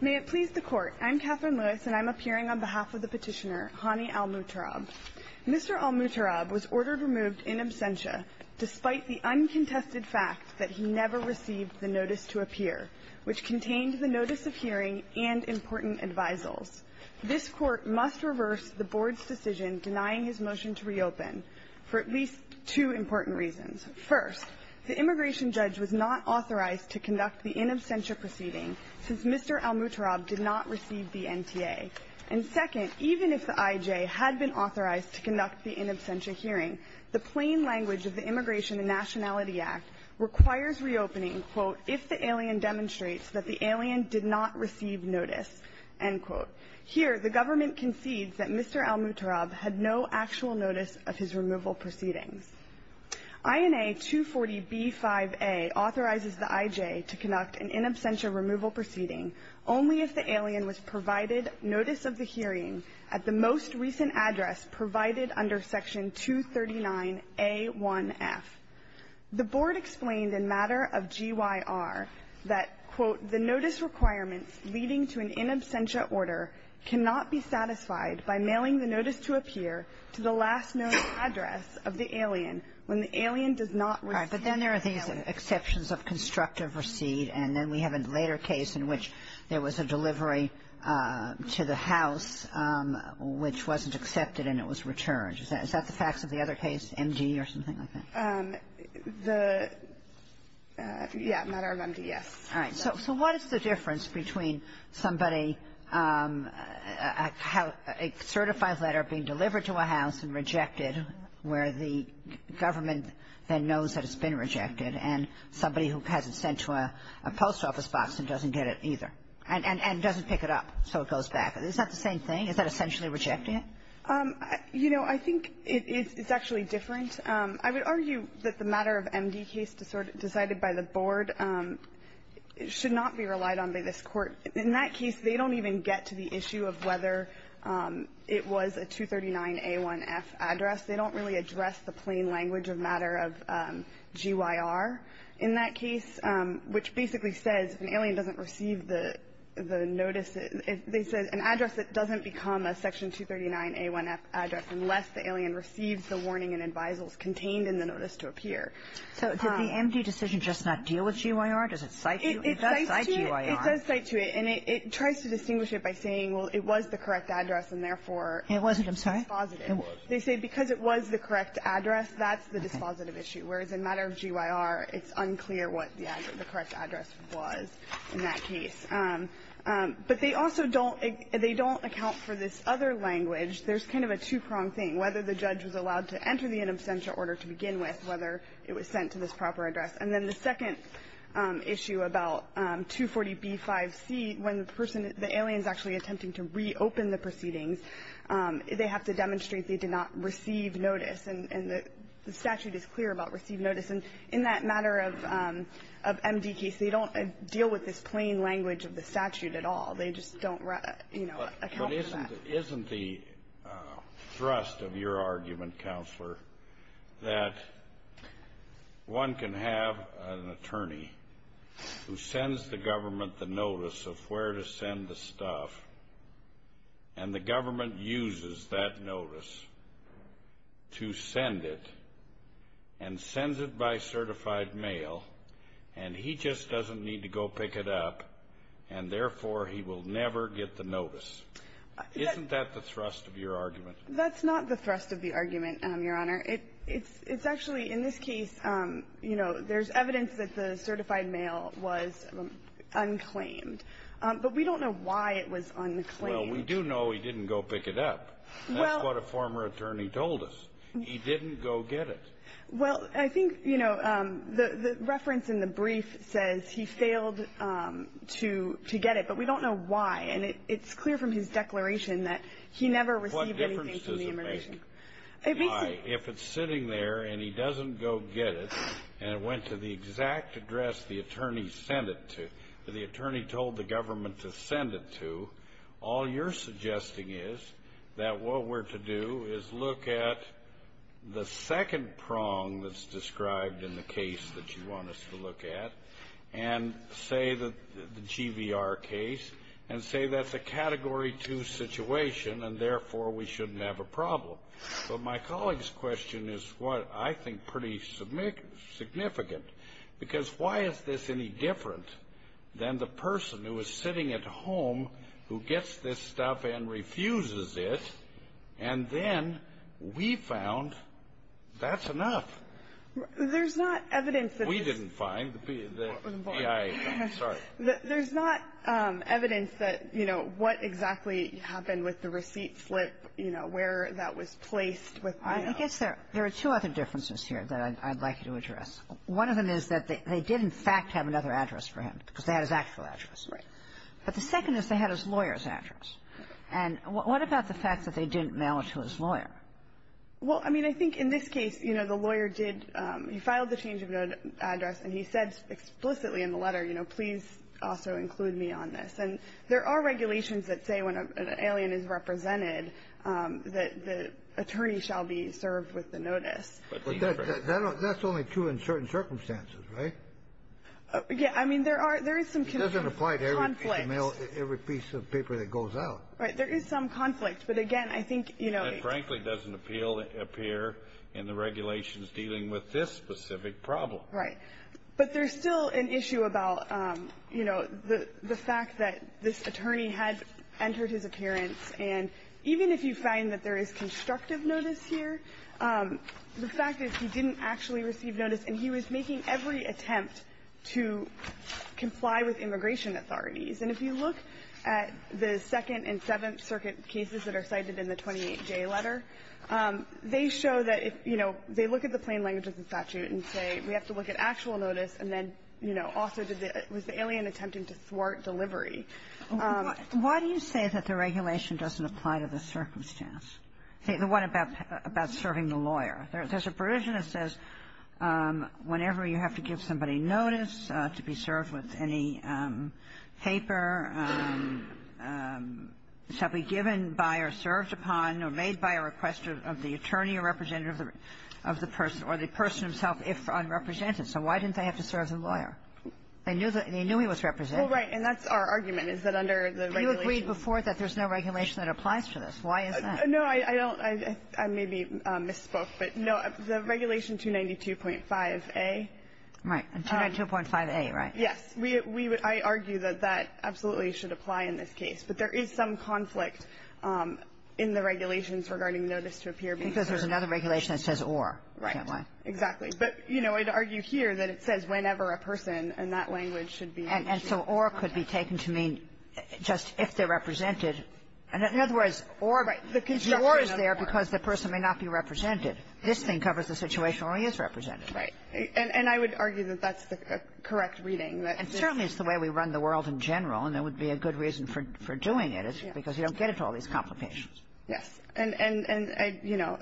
May it please the Court, I'm Katherine Lewis and I'm appearing on behalf of the petitioner, Hani al-Mutarrab. Mr. al-Mutarrab was ordered removed in absentia despite the uncontested fact that he never received the notice to appear, which contained the notice of hearing and important advisals. This Court must reverse the Board's decision denying his motion to reopen for at least two important reasons. First, the immigration judge was not authorized to conduct the in absentia proceeding since Mr. al-Mutarrab did not receive the NTA. And second, even if the IJ had been authorized to conduct the in absentia hearing, the plain language of the Immigration and Nationality Act requires reopening, quote, if the alien demonstrates that the alien did not receive notice, end quote. Here, the government concedes that Mr. al-Mutarrab had no actual notice of his removal proceedings. INA 240B5A authorizes the IJ to conduct an in absentia removal proceeding only if the alien was provided notice of the hearing at the most recent address provided under Section 239A1F. The Board explained in matter of GYR that, quote, the notice requirements leading to an in absentia order cannot be satisfied by mailing the notice to appear to the last known address of the alien when the alien does not receive the notice. Kagan. All right. But then there are these exceptions of constructive receipt, and then we have a later case in which there was a delivery to the house which wasn't accepted and it was returned. Is that the facts of the other case, MD or something like that? All right. So what is the difference between somebody, a certified letter being delivered to a house and rejected where the government then knows that it's been rejected and somebody who has it sent to a post office box and doesn't get it either and doesn't pick it up so it goes back? Is that the same thing? Is that essentially rejecting it? You know, I think it's actually different. I would argue that the matter of MD case decided by the Board should not be relied on by this Court. In that case, they don't even get to the issue of whether it was a 239A1F address. They don't really address the plain language of matter of GYR in that case, which basically says if an alien doesn't receive the notice, an address that doesn't become a Section 239A1F address unless the alien receives the warning and advisals contained in the notice to appear. So did the MD decision just not deal with GYR? Does it cite you? It does cite GYR. It does cite to it. And it tries to distinguish it by saying, well, it was the correct address and therefore it was dispositive. It wasn't, I'm sorry. It was. They say because it was the correct address, that's the dispositive issue, whereas in matter of GYR, it's unclear what the correct address was in that case. But they also don't account for this other language. There's kind of a two-prong thing, whether the judge was allowed to enter the in absentia order to begin with, whether it was sent to this proper address. And then the second issue about 240B5C, when the person, the alien is actually attempting to reopen the proceedings, they have to demonstrate they did not receive notice. And the statute is clear about receive notice. And in that matter of MD case, they don't deal with this plain language of the statute at all. They just don't, you know, account for that. But isn't the thrust of your argument, Counselor, that one can have an attorney who sends the government the notice of where to send the stuff, and the government uses that notice to send it, and sends it by certified mail, and he just doesn't need to go pick it up, and therefore, he will never get the notice? Isn't that the thrust of your argument? That's not the thrust of the argument, Your Honor. It's actually, in this case, you know, there's evidence that the certified mail was unclaimed. But we don't know why it was unclaimed. Well, we do know he didn't go pick it up. That's what a former attorney told us. He didn't go get it. Well, I think, you know, the reference in the brief says he failed to get it, but we don't know why. And it's clear from his declaration that he never received anything from the immigration. What difference does it make? If it's sitting there, and he doesn't go get it, and it went to the exact address the attorney sent it to, the attorney told the government to send it to, all you're suggesting is that what we're to do is look at the second prong that's described in the case that you want us to look at, and say that the GVR case, and say that's a Category 2 situation, and therefore, we shouldn't have a problem. Well, my colleague's question is what I think pretty significant. Because why is this any different than the person who is sitting at home who gets this stuff and refuses it, and then we found that's enough? There's not evidence that this is... We didn't find the PIA. I'm sorry. There's not evidence that, you know, what exactly happened with the receipt slip, you know, where that was placed with the mail. I guess there are two other differences here that I'd like you to address. One of them is that they did, in fact, have another address for him, because they had his actual address. Right. But the second is they had his lawyer's address. And what about the fact that they didn't mail it to his lawyer? Well, I mean, I think in this case, you know, the lawyer did. He filed the change of address, and he said explicitly in the letter, you know, please also include me on this. And there are regulations that say when an alien is represented that the attorney shall be served with the notice. But that's only true in certain circumstances, right? Yeah. I mean, there is some conflict. It doesn't apply to every piece of paper that goes out. Right. There is some conflict. But, again, I think, you know... It frankly doesn't appear in the regulations dealing with this specific problem. Right. But there's still an issue about, you know, the fact that this attorney had entered his appearance. And even if you find that there is constructive notice here, the fact is he didn't actually receive notice, and he was making every attempt to comply with immigration authorities. And if you look at the Second and Seventh Circuit cases that are cited in the 28J letter, they show that if, you know, they look at the plain language of the statute and say we have to look at actual notice, and then, you know, also was the alien attempting to thwart delivery. Why do you say that the regulation doesn't apply to the circumstance? The one about serving the lawyer. There's a provision that says whenever you have to give somebody notice to be served with any paper, shall be given by or served upon or made by a request of the attorney representative of the person or the person himself if unrepresented. So why didn't they have to serve the lawyer? They knew he was represented. Well, right. And that's our argument, is that under the regulation. You agreed before that there's no regulation that applies to this. Why is that? No, I don't. I maybe misspoke. But, no, the regulation 292.5a. Right. 292.5a, right. Yes. We would argue that that absolutely should apply in this case. But there is some conflict in the regulations regarding notice to appear being served. Because there's another regulation that says or. Right. Exactly. But, you know, I'd argue here that it says whenever a person, and that language should be. And so or could be taken to mean just if they're represented. In other words, or is there because the person may not be represented. This thing covers the situation where he is represented. Right. And I would argue that that's the correct reading. And certainly it's the way we run the world in general, and there would be a good reason for doing it, is because you don't get into all these complications. Yes. And, you know,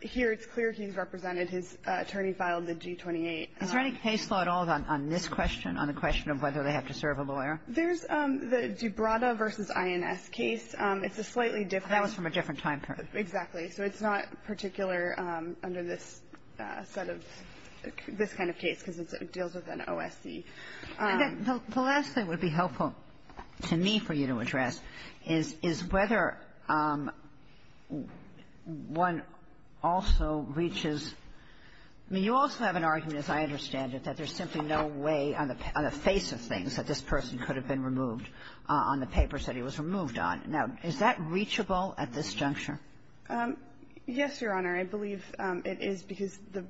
here it's clear he's represented. His attorney filed the G-28. Is there any case law at all on this question, on the question of whether they have to serve a lawyer? There's the Gibrata v. INS case. It's a slightly different. That was from a different time period. Exactly. So it's not particular under this set of this kind of case, because it deals with an OSC. The last thing would be helpful to me for you to address is whether one also reaches you also have an argument, as I understand it, that there's simply no way on the face of things that this person could have been removed on the papers that he was removed on. Now, is that reachable at this juncture? Yes, Your Honor. I believe it is, because the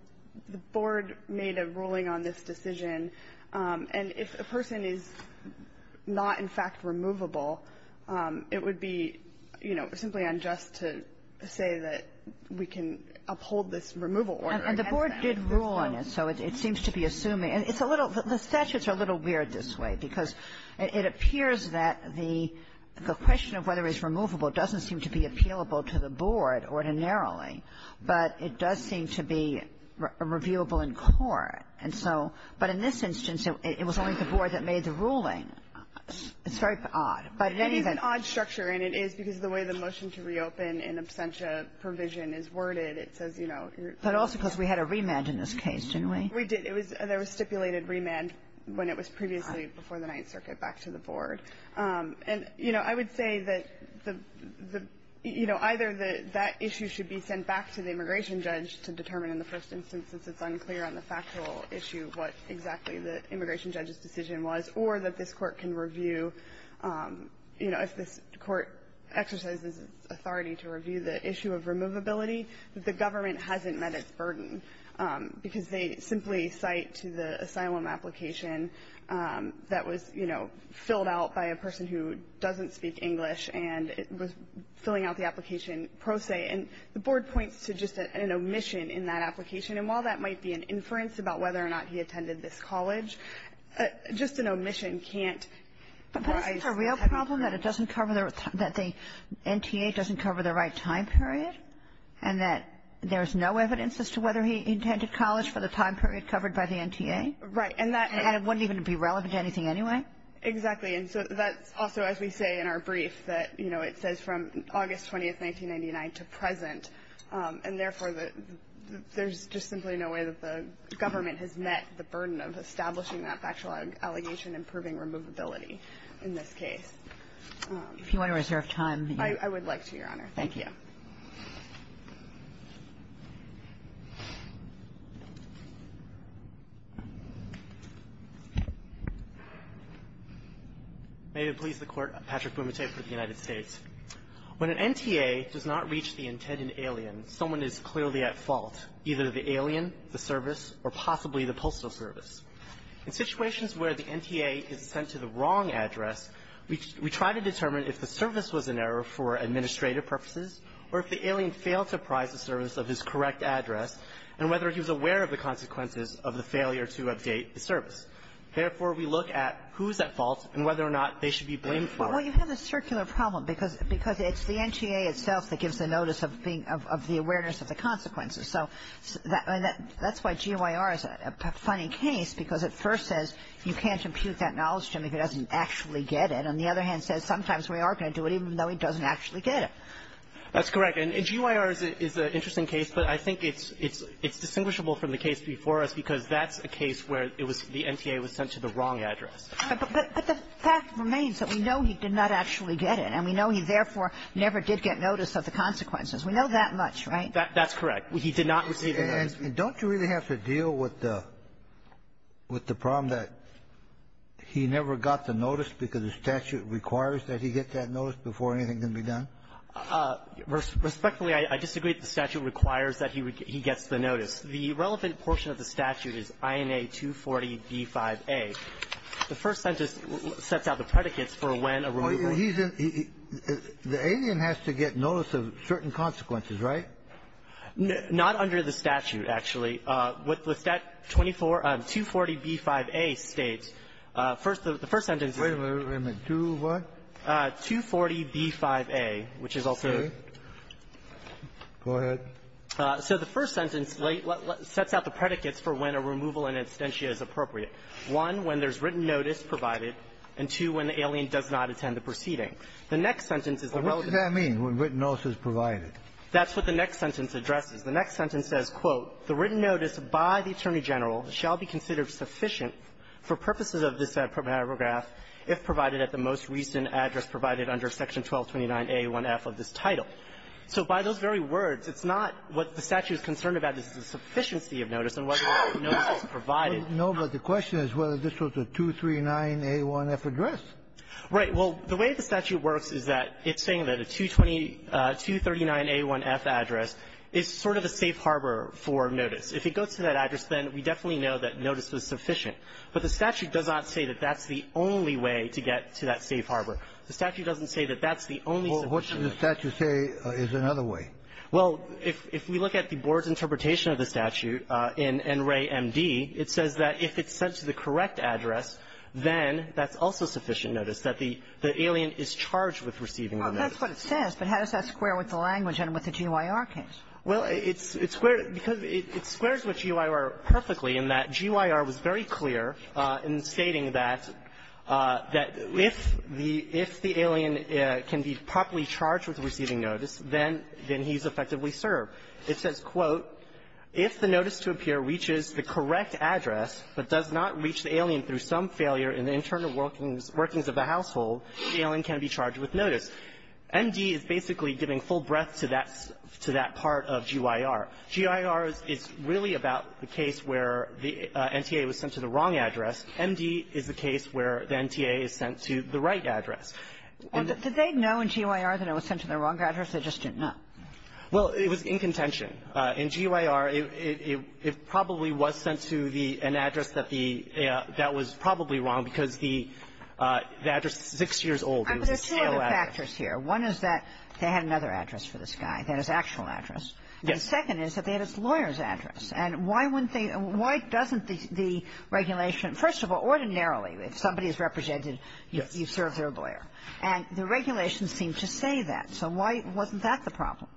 Board made a ruling on this decision. And if a person is not, in fact, removable, it would be, you know, simply unjust to say that we can uphold this removal order against them. And the Board did rule on it, so it seems to be assuming. It's a little the statutes are a little weird this way, because it appears that the question of whether it's removable doesn't seem to be appealable to the Board ordinarily, but it does seem to be reviewable in court. And so but in this instance, it was only the Board that made the ruling. It's very odd. But in any event — It is an odd structure, and it is because of the way the motion to reopen in absentia provision is worded. It says, you know — But also because we had a remand in this case, didn't we? We did. It was a stipulated remand when it was previously before the Ninth Circuit back to the I would say that the — you know, either that that issue should be sent back to the immigration judge to determine in the first instance, since it's unclear on the factual issue what exactly the immigration judge's decision was, or that this Court can review — you know, if this Court exercises its authority to review the issue of removability, that the government hasn't met its burden, because they simply cite to the asylum application that was, you know, filled out by a person who doesn't speak English and was filling out the application pro se. And the Board points to just an omission in that application. And while that might be an inference about whether or not he attended this college, just an omission can't — But that's a real problem, that it doesn't cover the — that the NTA doesn't cover the right time period, and that there's no evidence as to whether he attended college for the time period covered by the NTA? Right. And that — And it wouldn't even be relevant to anything anyway? Exactly. And so that's also, as we say in our brief, that, you know, it says from August 20, 1999, to present. And therefore, there's just simply no way that the government has met the burden of establishing that factual allegation and proving removability in this case. If you want to reserve time — I would like to, Your Honor. Thank you. Thank you. May it please the Court, Patrick Bumate for the United States. When an NTA does not reach the intended alien, someone is clearly at fault, either the alien, the service, or possibly the postal service. In situations where the NTA is sent to the wrong address, we try to determine if the service was an error for administrative purposes, or if the alien failed to prize the service of his correct address, and whether he was aware of the consequences of the failure to update the service. Therefore, we look at who's at fault and whether or not they should be blamed for it. Well, you have a circular problem, because it's the NTA itself that gives the notice of the awareness of the consequences. So that's why GYR is a funny case, because it first says you can't impute that knowledge to him if he doesn't actually get it, and the other hand says sometimes we are going to do it even though he doesn't actually get it. That's correct. And GYR is an interesting case, but I think it's distinguishable from the case before us because that's a case where it was the NTA was sent to the wrong address. But the fact remains that we know he did not actually get it, and we know he therefore never did get notice of the consequences. We know that much, right? That's correct. He did not receive the notice. And don't you really have to deal with the problem that he never got the notice because the statute requires that he get that notice before anything can be done? Respectfully, I disagree that the statute requires that he gets the notice. The relevant portion of the statute is INA 240b5a. The first sentence sets out the predicates for when a removal of the notice of the Not under the statute, actually. With that 24 of 240b5a states, first, the first sentence is to what? 240b5a, which is also the first sentence sets out the predicates for when a removal in absentia is appropriate. One, when there's written notice provided, and two, when the alien does not attend the proceeding. The next sentence is the relevant. What does that mean, when written notice is provided? That's what the next sentence addresses. The next sentence says, quote, the written notice by the Attorney General shall be considered sufficient for purposes of this paragraph if provided at the most recent address provided under Section 1229a1f of this title. So by those very words, it's not what the statute is concerned about. It's the sufficiency of notice and whether or not the notice is provided. No, but the question is whether this was a 239a1f address. Right. Well, the way the statute works is that it's saying that a 229a1f address is sort of a safe harbor for notice. If it goes to that address, then we definitely know that notice was sufficient. But the statute does not say that that's the only way to get to that safe harbor. The statute doesn't say that that's the only way. Well, what should the statute say is another way? Well, if we look at the Board's interpretation of the statute in NREA M.D., it says that if it's sent to the correct address, then that's also sufficient notice, that the alien is charged with receiving the notice. Well, that's what it says. But how does that square with the language and with the G.Y.R. case? Well, it's squared because it squares with G.Y.R. perfectly in that G.Y.R. was very clear in stating that if the alien can be properly charged with receiving notice, then he's effectively served. It says, quote, if the notice to appear reaches the correct address but does not reach the alien through some failure in the internal workings of the household, the alien can be charged with notice. M.D. is basically giving full breadth to that part of G.Y.R. G.Y.R. is really about the case where the NTA was sent to the wrong address. M.D. is the case where the NTA is sent to the right address. And did they know in G.Y.R. that it was sent to the wrong address? They just didn't know. Well, it was in contention. In G.Y.R., it probably was sent to the an address that the that was probably wrong because the address is six years old. It was a stale address. I mean, there's two other factors here. One is that they had another address for this guy, that is, actual address. Yes. The second is that they had his lawyer's address. And why wouldn't they why doesn't the regulation, first of all, ordinarily if somebody is represented, you serve their lawyer. Yes. And the regulations seem to say that. So why wasn't that the problem?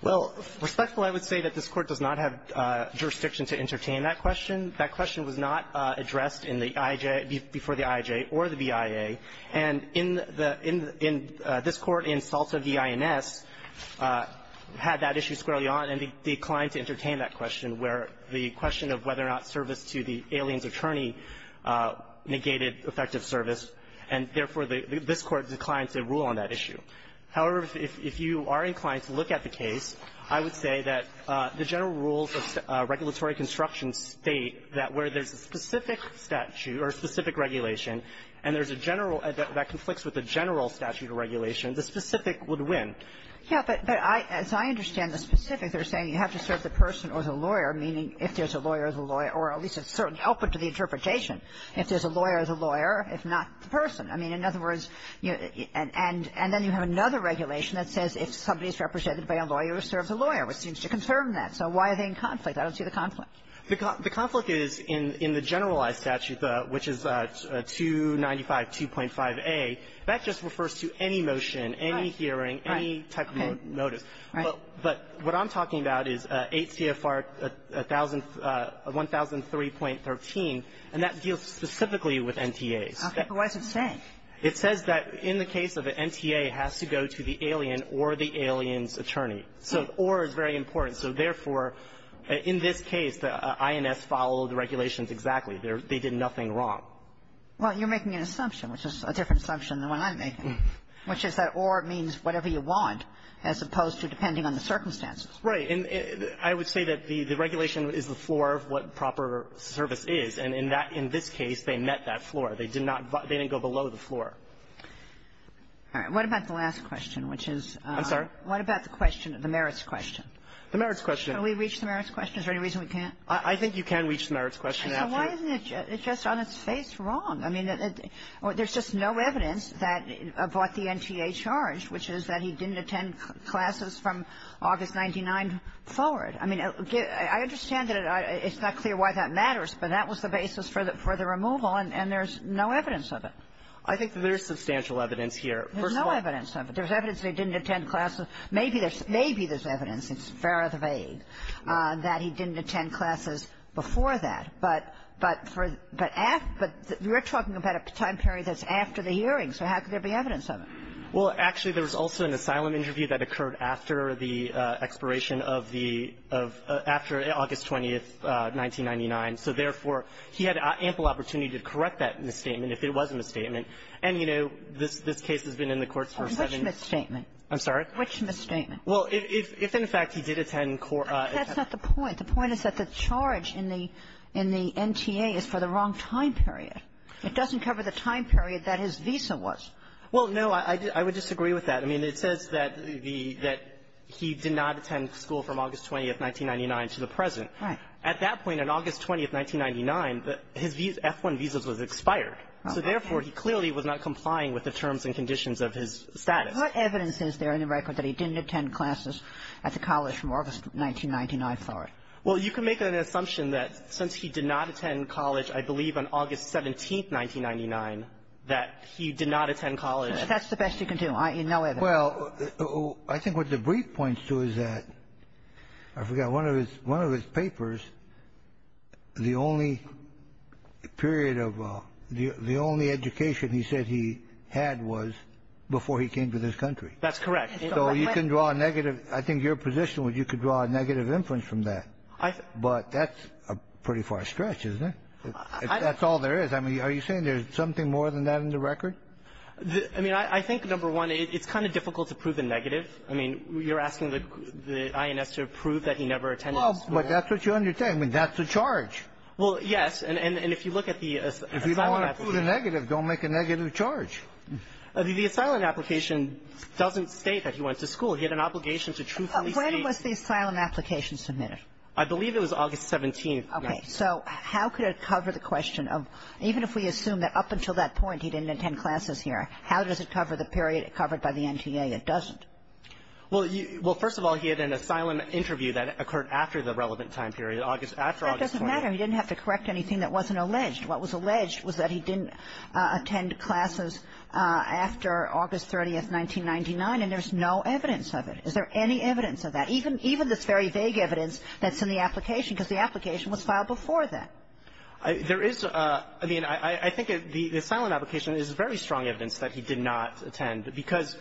Well, respectfully, I would say that this Court does not have jurisdiction to entertain that question. That question was not addressed in the I.I.J. before the I.I.J. or the BIA. And in the in this Court, in Salta v. INS, had that issue squarely on, and declined to entertain that question where the question of whether or not service to the alien's attorney negated effective service. And, therefore, this Court declined to rule on that issue. However, if you are inclined to look at the case, I would say that the general rules of regulatory construction state that where there's a specific statute or a specific regulation and there's a general that conflicts with the general statute of regulation, the specific would win. Yeah. But as I understand the specifics, they're saying you have to serve the person or the lawyer, meaning if there's a lawyer, the lawyer, or at least a certain output to the interpretation. If there's a lawyer, the lawyer, if not the person. I mean, in other words, and then you have another regulation that says if somebody is represented by a lawyer, serve the lawyer, which seems to confirm that. So why are they in conflict? I don't see the conflict. The conflict is in the generalized statute, which is 295-2.5a. That just refers to any motion, any hearing, any type of notice. Right. But what I'm talking about is 8 CFR 1003.13, and that deals specifically with NTAs. Okay. But what does it say? It says that in the case of an NTA, it has to go to the alien or the alien's attorney. So or is very important. So therefore, in this case, the INS followed the regulations exactly. They did nothing wrong. Well, you're making an assumption, which is a different assumption than what I'm making, which is that or means whatever you want, as opposed to depending on the circumstances. Right. And I would say that the regulation is the floor of what proper service is. And in this case, they met that floor. They did not go below the floor. All right. What about the last question, which is the merits question? The merits question. Can we reach the merits question? Is there any reason we can't? I think you can reach the merits question. So why isn't it just on its face wrong? I mean, there's just no evidence about the NTA charge, which is that he didn't attend classes from August 99 forward. I mean, I understand that it's not clear why that matters, but that was the basis for the removal, and there's no evidence of it. I think there's substantial evidence here. First of all — There's no evidence of it. There's evidence that he didn't attend classes. Maybe there's evidence. It's far out of the vague that he didn't attend classes before that. But you're talking about a time period that's after the hearing. So how could there be evidence of it? Well, actually, there was also an asylum interview that occurred after the expiration of the — of — after August 20th, 1999. So therefore, he had ample opportunity to correct that misstatement, if it was a misstatement. And, you know, this case has been in the courts for seven — Which misstatement? I'm sorry? Which misstatement? Well, if in fact he did attend — That's not the point. The point is that the charge in the — in the NTA is for the wrong time period. It doesn't cover the time period that his visa was. Well, no, I would disagree with that. I mean, it says that the — that he did not attend school from August 20th, 1999 to the present. Right. At that point, on August 20th, 1999, his F-1 visa was expired. So therefore, he clearly was not complying with the terms and conditions of his status. What evidence is there in the record that he didn't attend classes at the college from August 1999 forward? Well, you can make an assumption that since he did not attend college, I believe on August 17th, 1999, that he did not attend college. That's the best you can do. I — no evidence. Well, I think what the brief points to is that — I forgot. One of his — one of his papers, the only period of — the only education he said he had was before he came to this country. That's correct. So you can draw a negative — I think your position was you could draw a negative inference from that. I — But that's a pretty far stretch, isn't it? That's all there is. I mean, are you saying there's something more than that in the record? I mean, I think, number one, it's kind of difficult to prove a negative. I mean, you're asking the INS to prove that he never attended school. Well, but that's what you're saying. I mean, that's the charge. Well, yes. And if you look at the asylum application — If you don't want to prove a negative, don't make a negative charge. The asylum application doesn't state that he went to school. He had an obligation to truthfully state — When was the asylum application submitted? I believe it was August 17th. Okay. So how could it cover the question of — even if we assume that up until that point, he didn't attend classes here, how does it cover the period covered by the NTA? It doesn't. Well, you — well, first of all, he had an asylum interview that occurred after the relevant time period, August — after August 20th. That doesn't matter. He didn't have to correct anything that wasn't alleged. What was alleged was that he didn't attend classes after August 30th, 1999. And there's no evidence of it. Is there any evidence of that, even this very vague evidence that's in the application? The asylum application was filed before that. There is — I mean, I think the asylum application is very strong evidence that he did not attend, because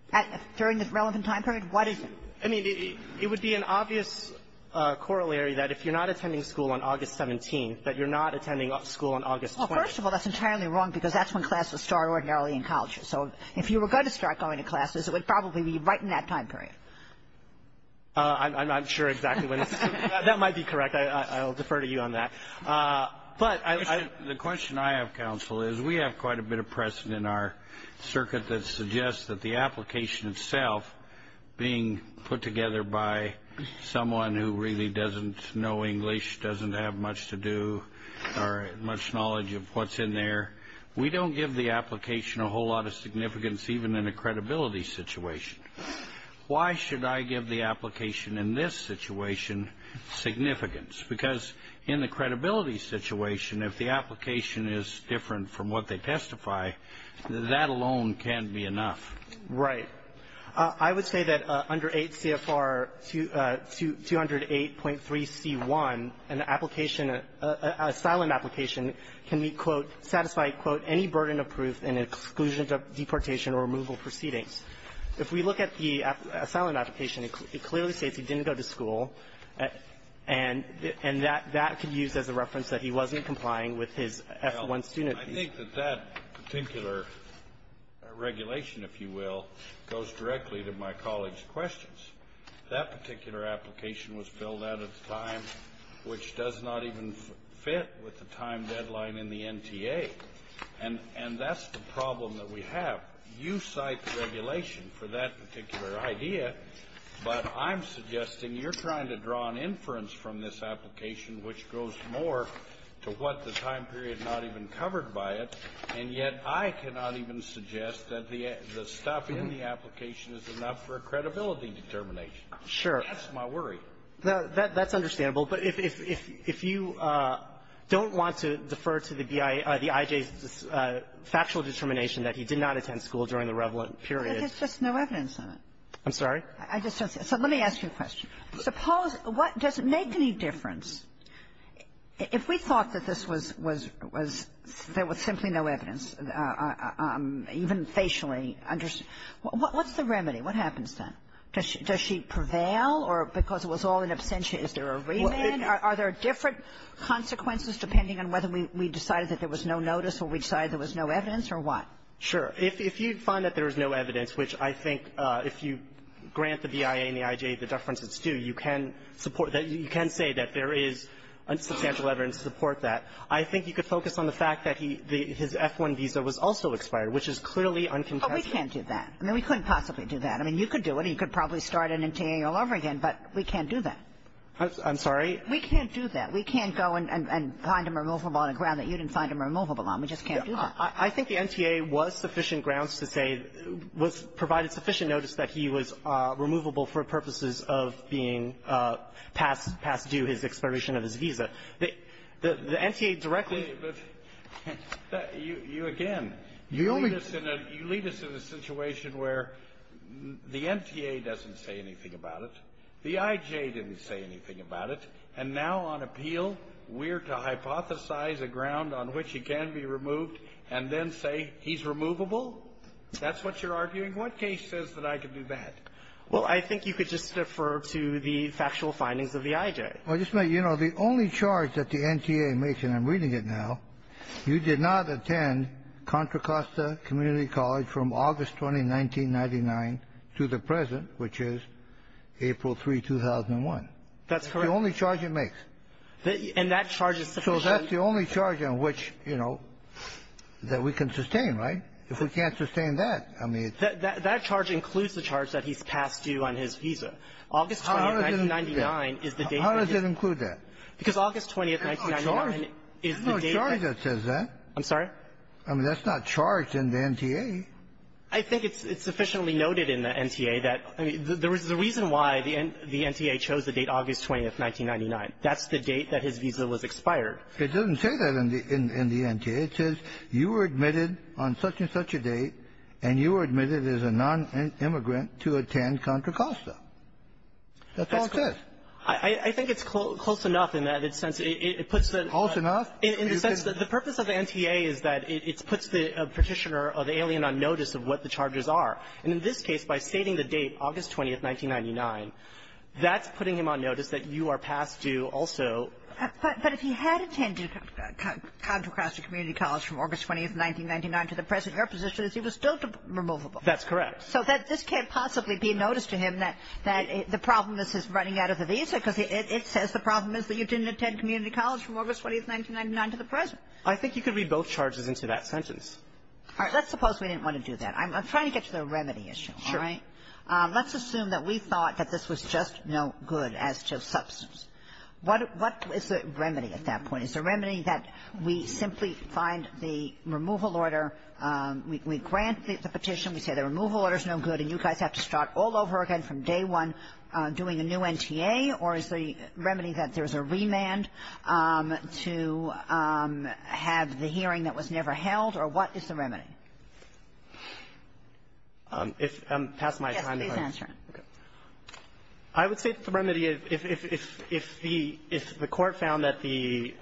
— During the relevant time period? What is it? I mean, it would be an obvious corollary that if you're not attending school on August 17th, that you're not attending school on August 20th. Well, first of all, that's entirely wrong, because that's when classes start ordinarily in colleges. So if you were going to start going to classes, it would probably be right in that time period. I'm not sure exactly when it's — That might be correct. I'll defer to you on that. But I — The question I have, counsel, is we have quite a bit of precedent in our circuit that suggests that the application itself, being put together by someone who really doesn't know English, doesn't have much to do or much knowledge of what's in there, we don't give the application a whole lot of significance, even in a credibility situation. Why should I give the application in this situation significance? Because in the credibility situation, if the application is different from what they testify, that alone can't be enough. Right. I would say that under 8 CFR 208.3c1, an application, an asylum application can be, quote, satisfied, quote, any burden of proof in exclusion of deportation or removal proceedings. If we look at the asylum application, it clearly states he didn't go to school, and that can be used as a reference that he wasn't complying with his F-1 student visa. Well, I think that that particular regulation, if you will, goes directly to my colleague's questions. That particular application was filled out at a time which does not even fit with the time deadline in the NTA. And that's the problem that we have. You cite regulation for that particular idea, but I'm suggesting you're trying to draw an inference from this application which goes more to what the time period is not even covered by it, and yet I cannot even suggest that the stuff in the application is enough for a credibility determination. Sure. That's my worry. That's understandable. But if you don't want to defer to the IJ's factual determination that he did not attend school during the relevant period — But there's just no evidence on it. I'm sorry? I just don't see it. So let me ask you a question. Suppose — does it make any difference if we thought that this was — was — there was simply no evidence, even facially understood? What's the remedy? What happens then? Does she prevail or because it was all an absentia, is there a remand? Are there different consequences depending on whether we decided that there was no notice or we decided there was no evidence or what? Sure. If you find that there is no evidence, which I think if you grant the BIA and the IJ the deference it's due, you can support that. You can say that there is substantial evidence to support that. I think you could focus on the fact that he — his F-1 visa was also expired, which is clearly uncontested. But we can't do that. I mean, we couldn't possibly do that. I mean, you could do it, and you could probably start an NTA all over again, but we can't do that. I'm sorry? We can't do that. We can't go and find him removable on a ground that you didn't find him removable on. We just can't do that. I think the NTA was sufficient grounds to say — was — provided sufficient notice that he was removable for purposes of being passed due his expiration of his visa. The NTA directly — But you — you again, you lead us in a — you lead us in a situation where the NTA doesn't say anything about it, the IJ didn't say anything about it, and now on appeal we're to hypothesize a ground on which he can be removed and then say he's removable? That's what you're arguing? What case says that I can do that? Well, I think you could just defer to the factual findings of the IJ. Well, just — you know, the only charge that the NTA makes, and I'm reading it now, you did not attend Contra Costa Community College from August 20, 1999, to the present, which is April 3, 2001. That's correct. That's the only charge it makes. And that charge is sufficient. So that's the only charge on which, you know, that we can sustain, right? If we can't sustain that, I mean — That — that charge includes the charge that he's passed due on his visa. August 20, 1999, is the date that it — How does it include that? Because August 20, 1999, is the date that — There's no charge that says that. I'm sorry? I mean, that's not charged in the NTA. I think it's sufficiently noted in the NTA that — I mean, the reason why the NTA chose the date August 20, 1999, that's the date that his visa was expired. It doesn't say that in the — in the NTA. It says you were admitted on such-and-such a date, and you were admitted as a nonimmigrant to attend Contra Costa. That's all it says. I think it's close enough in that it puts the — Close enough? In the sense that the purpose of the NTA is that it puts the Petitioner or the alien on notice of what the charges are. And in this case, by stating the date, August 20, 1999, that's putting him on notice that you are past due also. But if he had attended Contra Costa Community College from August 20, 1999, to the present, your position is he was still removable. That's correct. So this can't possibly be noticed to him that the problem is his running out of the visa, because it says the problem is that you didn't attend community college from August 20, 1999, to the present. I think you could read both charges into that sentence. All right. Let's suppose we didn't want to do that. I'm trying to get to the remedy issue, all right? Sure. Let's assume that we thought that this was just no good as to substance. What is the remedy at that point? Is the remedy that we simply find the removal order, we grant the Petition, we say the removal order is no good, and you guys have to start all over again from day one doing a new NTA, or is the remedy that there's a remand to have the hearing that was never held, or what is the remedy? If I'm past my time, if I'm going to go. Yes, please answer. Okay. I would say that the remedy, if the Court found that the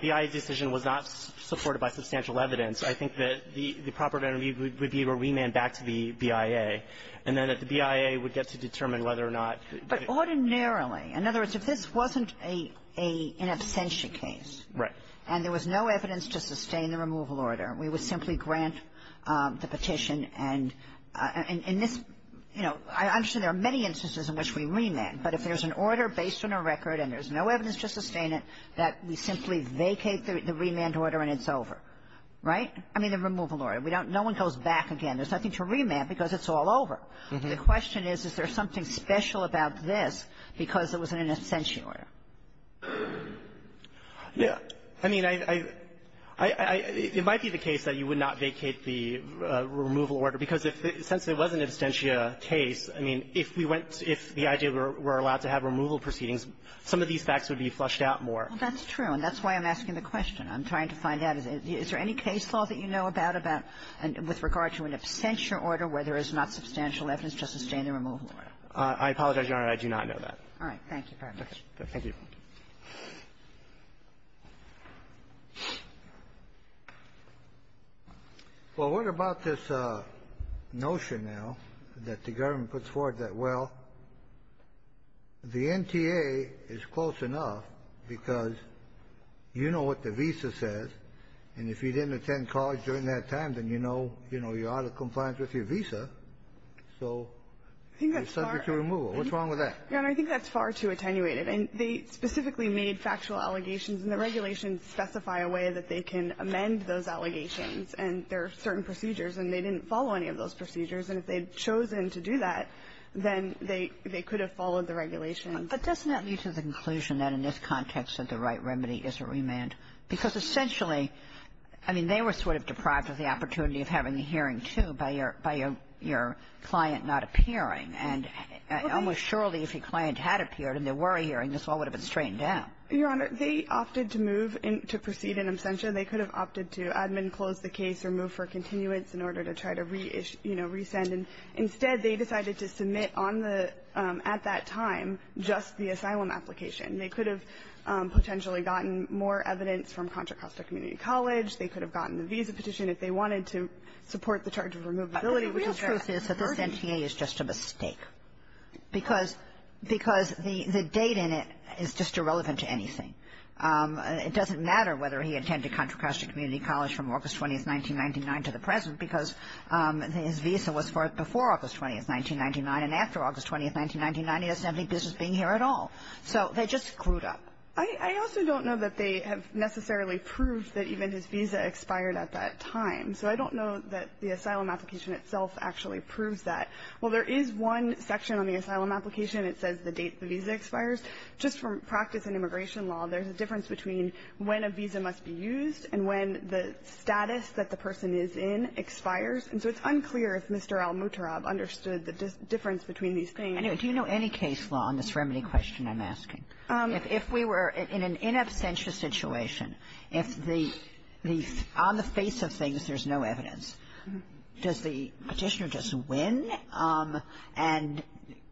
BIA decision was not supported by substantial evidence, I think that the proper remedy would be a remand back to the BIA, and then that the BIA would get to determine whether or not the ---- But ordinarily, in other words, if this wasn't an absentia case. Right. And there was no evidence to sustain the removal order. We would simply grant the Petition, and in this, you know, I'm sure there are many instances in which we remand, but if there's an order based on a record and there's no evidence to sustain it, that we simply vacate the remand order and it's over. Right? I mean, the removal order. We don't ---- no one goes back again. There's nothing to remand because it's all over. The question is, is there something special about this because it was an absentia order? Yeah. I mean, I ---- I ---- it might be the case that you would not vacate the removal order, because if the ---- since it was an absentia case, I mean, if we went to ---- if the idea were allowed to have removal proceedings, some of these facts would be flushed out more. Well, that's true, and that's why I'm asking the question. I'm trying to find out, is there any case law that you know about, about ---- with regard to an absentia order where there is not substantial evidence to sustain the removal order? All right. Thank you very much. Thank you. Well, what about this notion now that the government puts forward that, well, the NTA is close enough, because you know what the visa says, and if you didn't attend college during that time, then you know you're out of compliance with your visa. So you're subject to removal. What's wrong with that? Your Honor, I think that's far too attenuated. And they specifically made factual allegations, and the regulations specify a way that they can amend those allegations, and there are certain procedures, and they didn't follow any of those procedures. And if they'd chosen to do that, then they could have followed the regulations. But doesn't that lead to the conclusion that in this context that the right remedy is a remand? Because essentially, I mean, they were sort of deprived of the opportunity of having a hearing, too, by your client not appearing. And almost surely, if a client had appeared and there were a hearing, this all would have been straightened out. Your Honor, they opted to move and to proceed in absentia. They could have opted to admin close the case or move for continuance in order to try to reissue, you know, resend. And instead, they decided to submit on the at that time just the asylum application. They could have potentially gotten more evidence from Contra Costa Community College. They could have gotten the visa petition if they wanted to support the charge of a mistake, because the date in it is just irrelevant to anything. It doesn't matter whether he attended Contra Costa Community College from August 20th, 1999 to the present, because his visa was for before August 20th, 1999. And after August 20th, 1999, he doesn't have any business being here at all. So they just screwed up. I also don't know that they have necessarily proved that even his visa expired at that time. So I don't know that the asylum application itself actually proves that. Well, there is one section on the asylum application. It says the date the visa expires. Just from practice in immigration law, there's a difference between when a visa must be used and when the status that the person is in expires. And so it's unclear if Mr. Al-Mutarab understood the difference between these things. Kagan. Do you know any case law on this remedy question I'm asking? If we were in an in absentia situation, if the the on the face of things there's no evidence, does the Petitioner just win and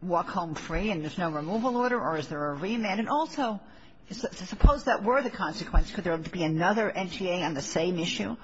walk home free and there's no removal order, or is there a remand? And also, suppose that were the consequence. Could there be another NTA on the same issue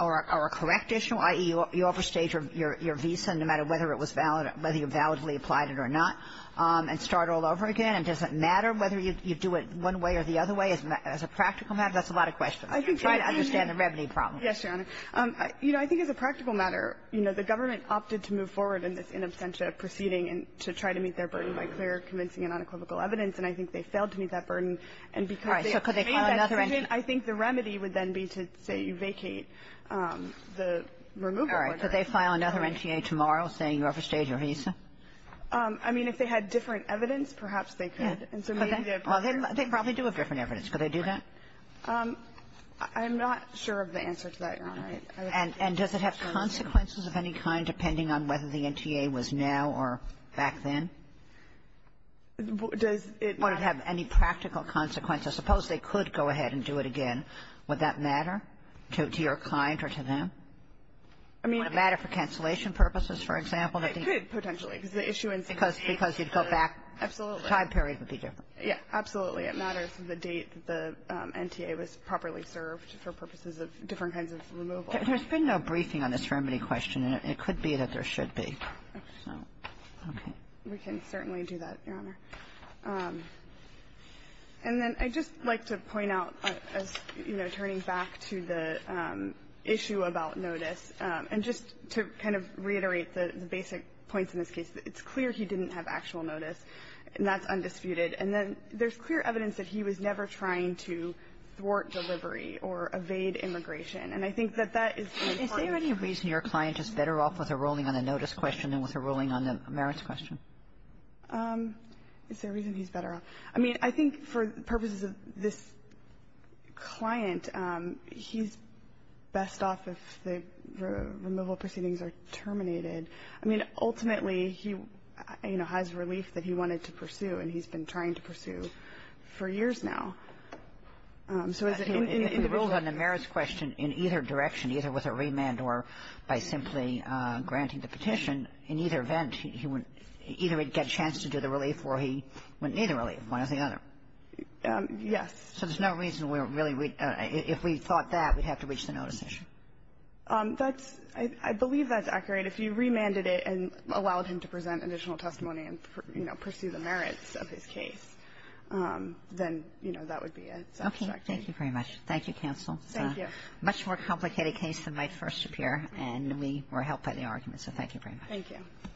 or a correct issue, i.e., you overstage your visa no matter whether it was valid, whether you validly applied it or not, and start all over again? And does it matter whether you do it one way or the other way as a practical matter? That's a lot of questions. I'm trying to understand the remedy problem. Yes, Your Honor. You know, I think as a practical matter, you know, the government opted to move forward in this in absentia proceeding and to try to meet their burden by clear, convincing and unequivocal evidence. And I think they failed to meet that burden. And because they obtained that decision, I think the remedy would then be to say you vacate the removal order. All right. Could they file another NTA tomorrow saying you overstayed your visa? I mean, if they had different evidence, perhaps they could. And so maybe the approach is different. Well, they probably do have different evidence. Could they do that? I'm not sure of the answer to that, Your Honor. And does it have consequences of any kind, depending on whether the NTA was now or back then? Does it not have any practical consequences? Suppose they could go ahead and do it again. Would that matter to your client or to them? I mean, it could. Would it matter for cancellation purposes, for example? It could, potentially, because the issuance date would be different. Because you'd go back. Absolutely. The time period would be different. Yes. Absolutely. It matters the date the NTA was properly served for purposes of different kinds of removal. There's been no briefing on this remedy question, and it could be that there should be. Okay. We can certainly do that, Your Honor. And then I'd just like to point out, as, you know, turning back to the issue about notice, and just to kind of reiterate the basic points in this case, it's clear he didn't have actual notice, and that's undisputed. And then there's clear evidence that he was never trying to thwart delivery or evade immigration. And I think that that is an important point. Is there any reason your client is better off with a ruling on the notice question than with a ruling on the merits question? Is there a reason he's better off? I mean, I think for purposes of this client, he's best off if the removal proceedings are terminated. I mean, ultimately, he, you know, has relief that he wanted to pursue, and he's been trying to pursue for years now. So is it in the position of the court? If he ruled on the merits question in either direction, either with a remand or by simply granting the petition, in either event, he would either get a chance to do the relief or he wouldn't need the relief, one or the other. Yes. So there's no reason we're really we – if we thought that, we'd have to reach the notice issue. That's – I believe that's accurate. But if you remanded it and allowed him to present additional testimony and, you know, pursue the merits of his case, then, you know, that would be a satisfactory – Okay. Thank you very much. Thank you, counsel. Thank you. It's a much more complicated case than might first appear, and we were helped by the argument, so thank you very much. Thank you.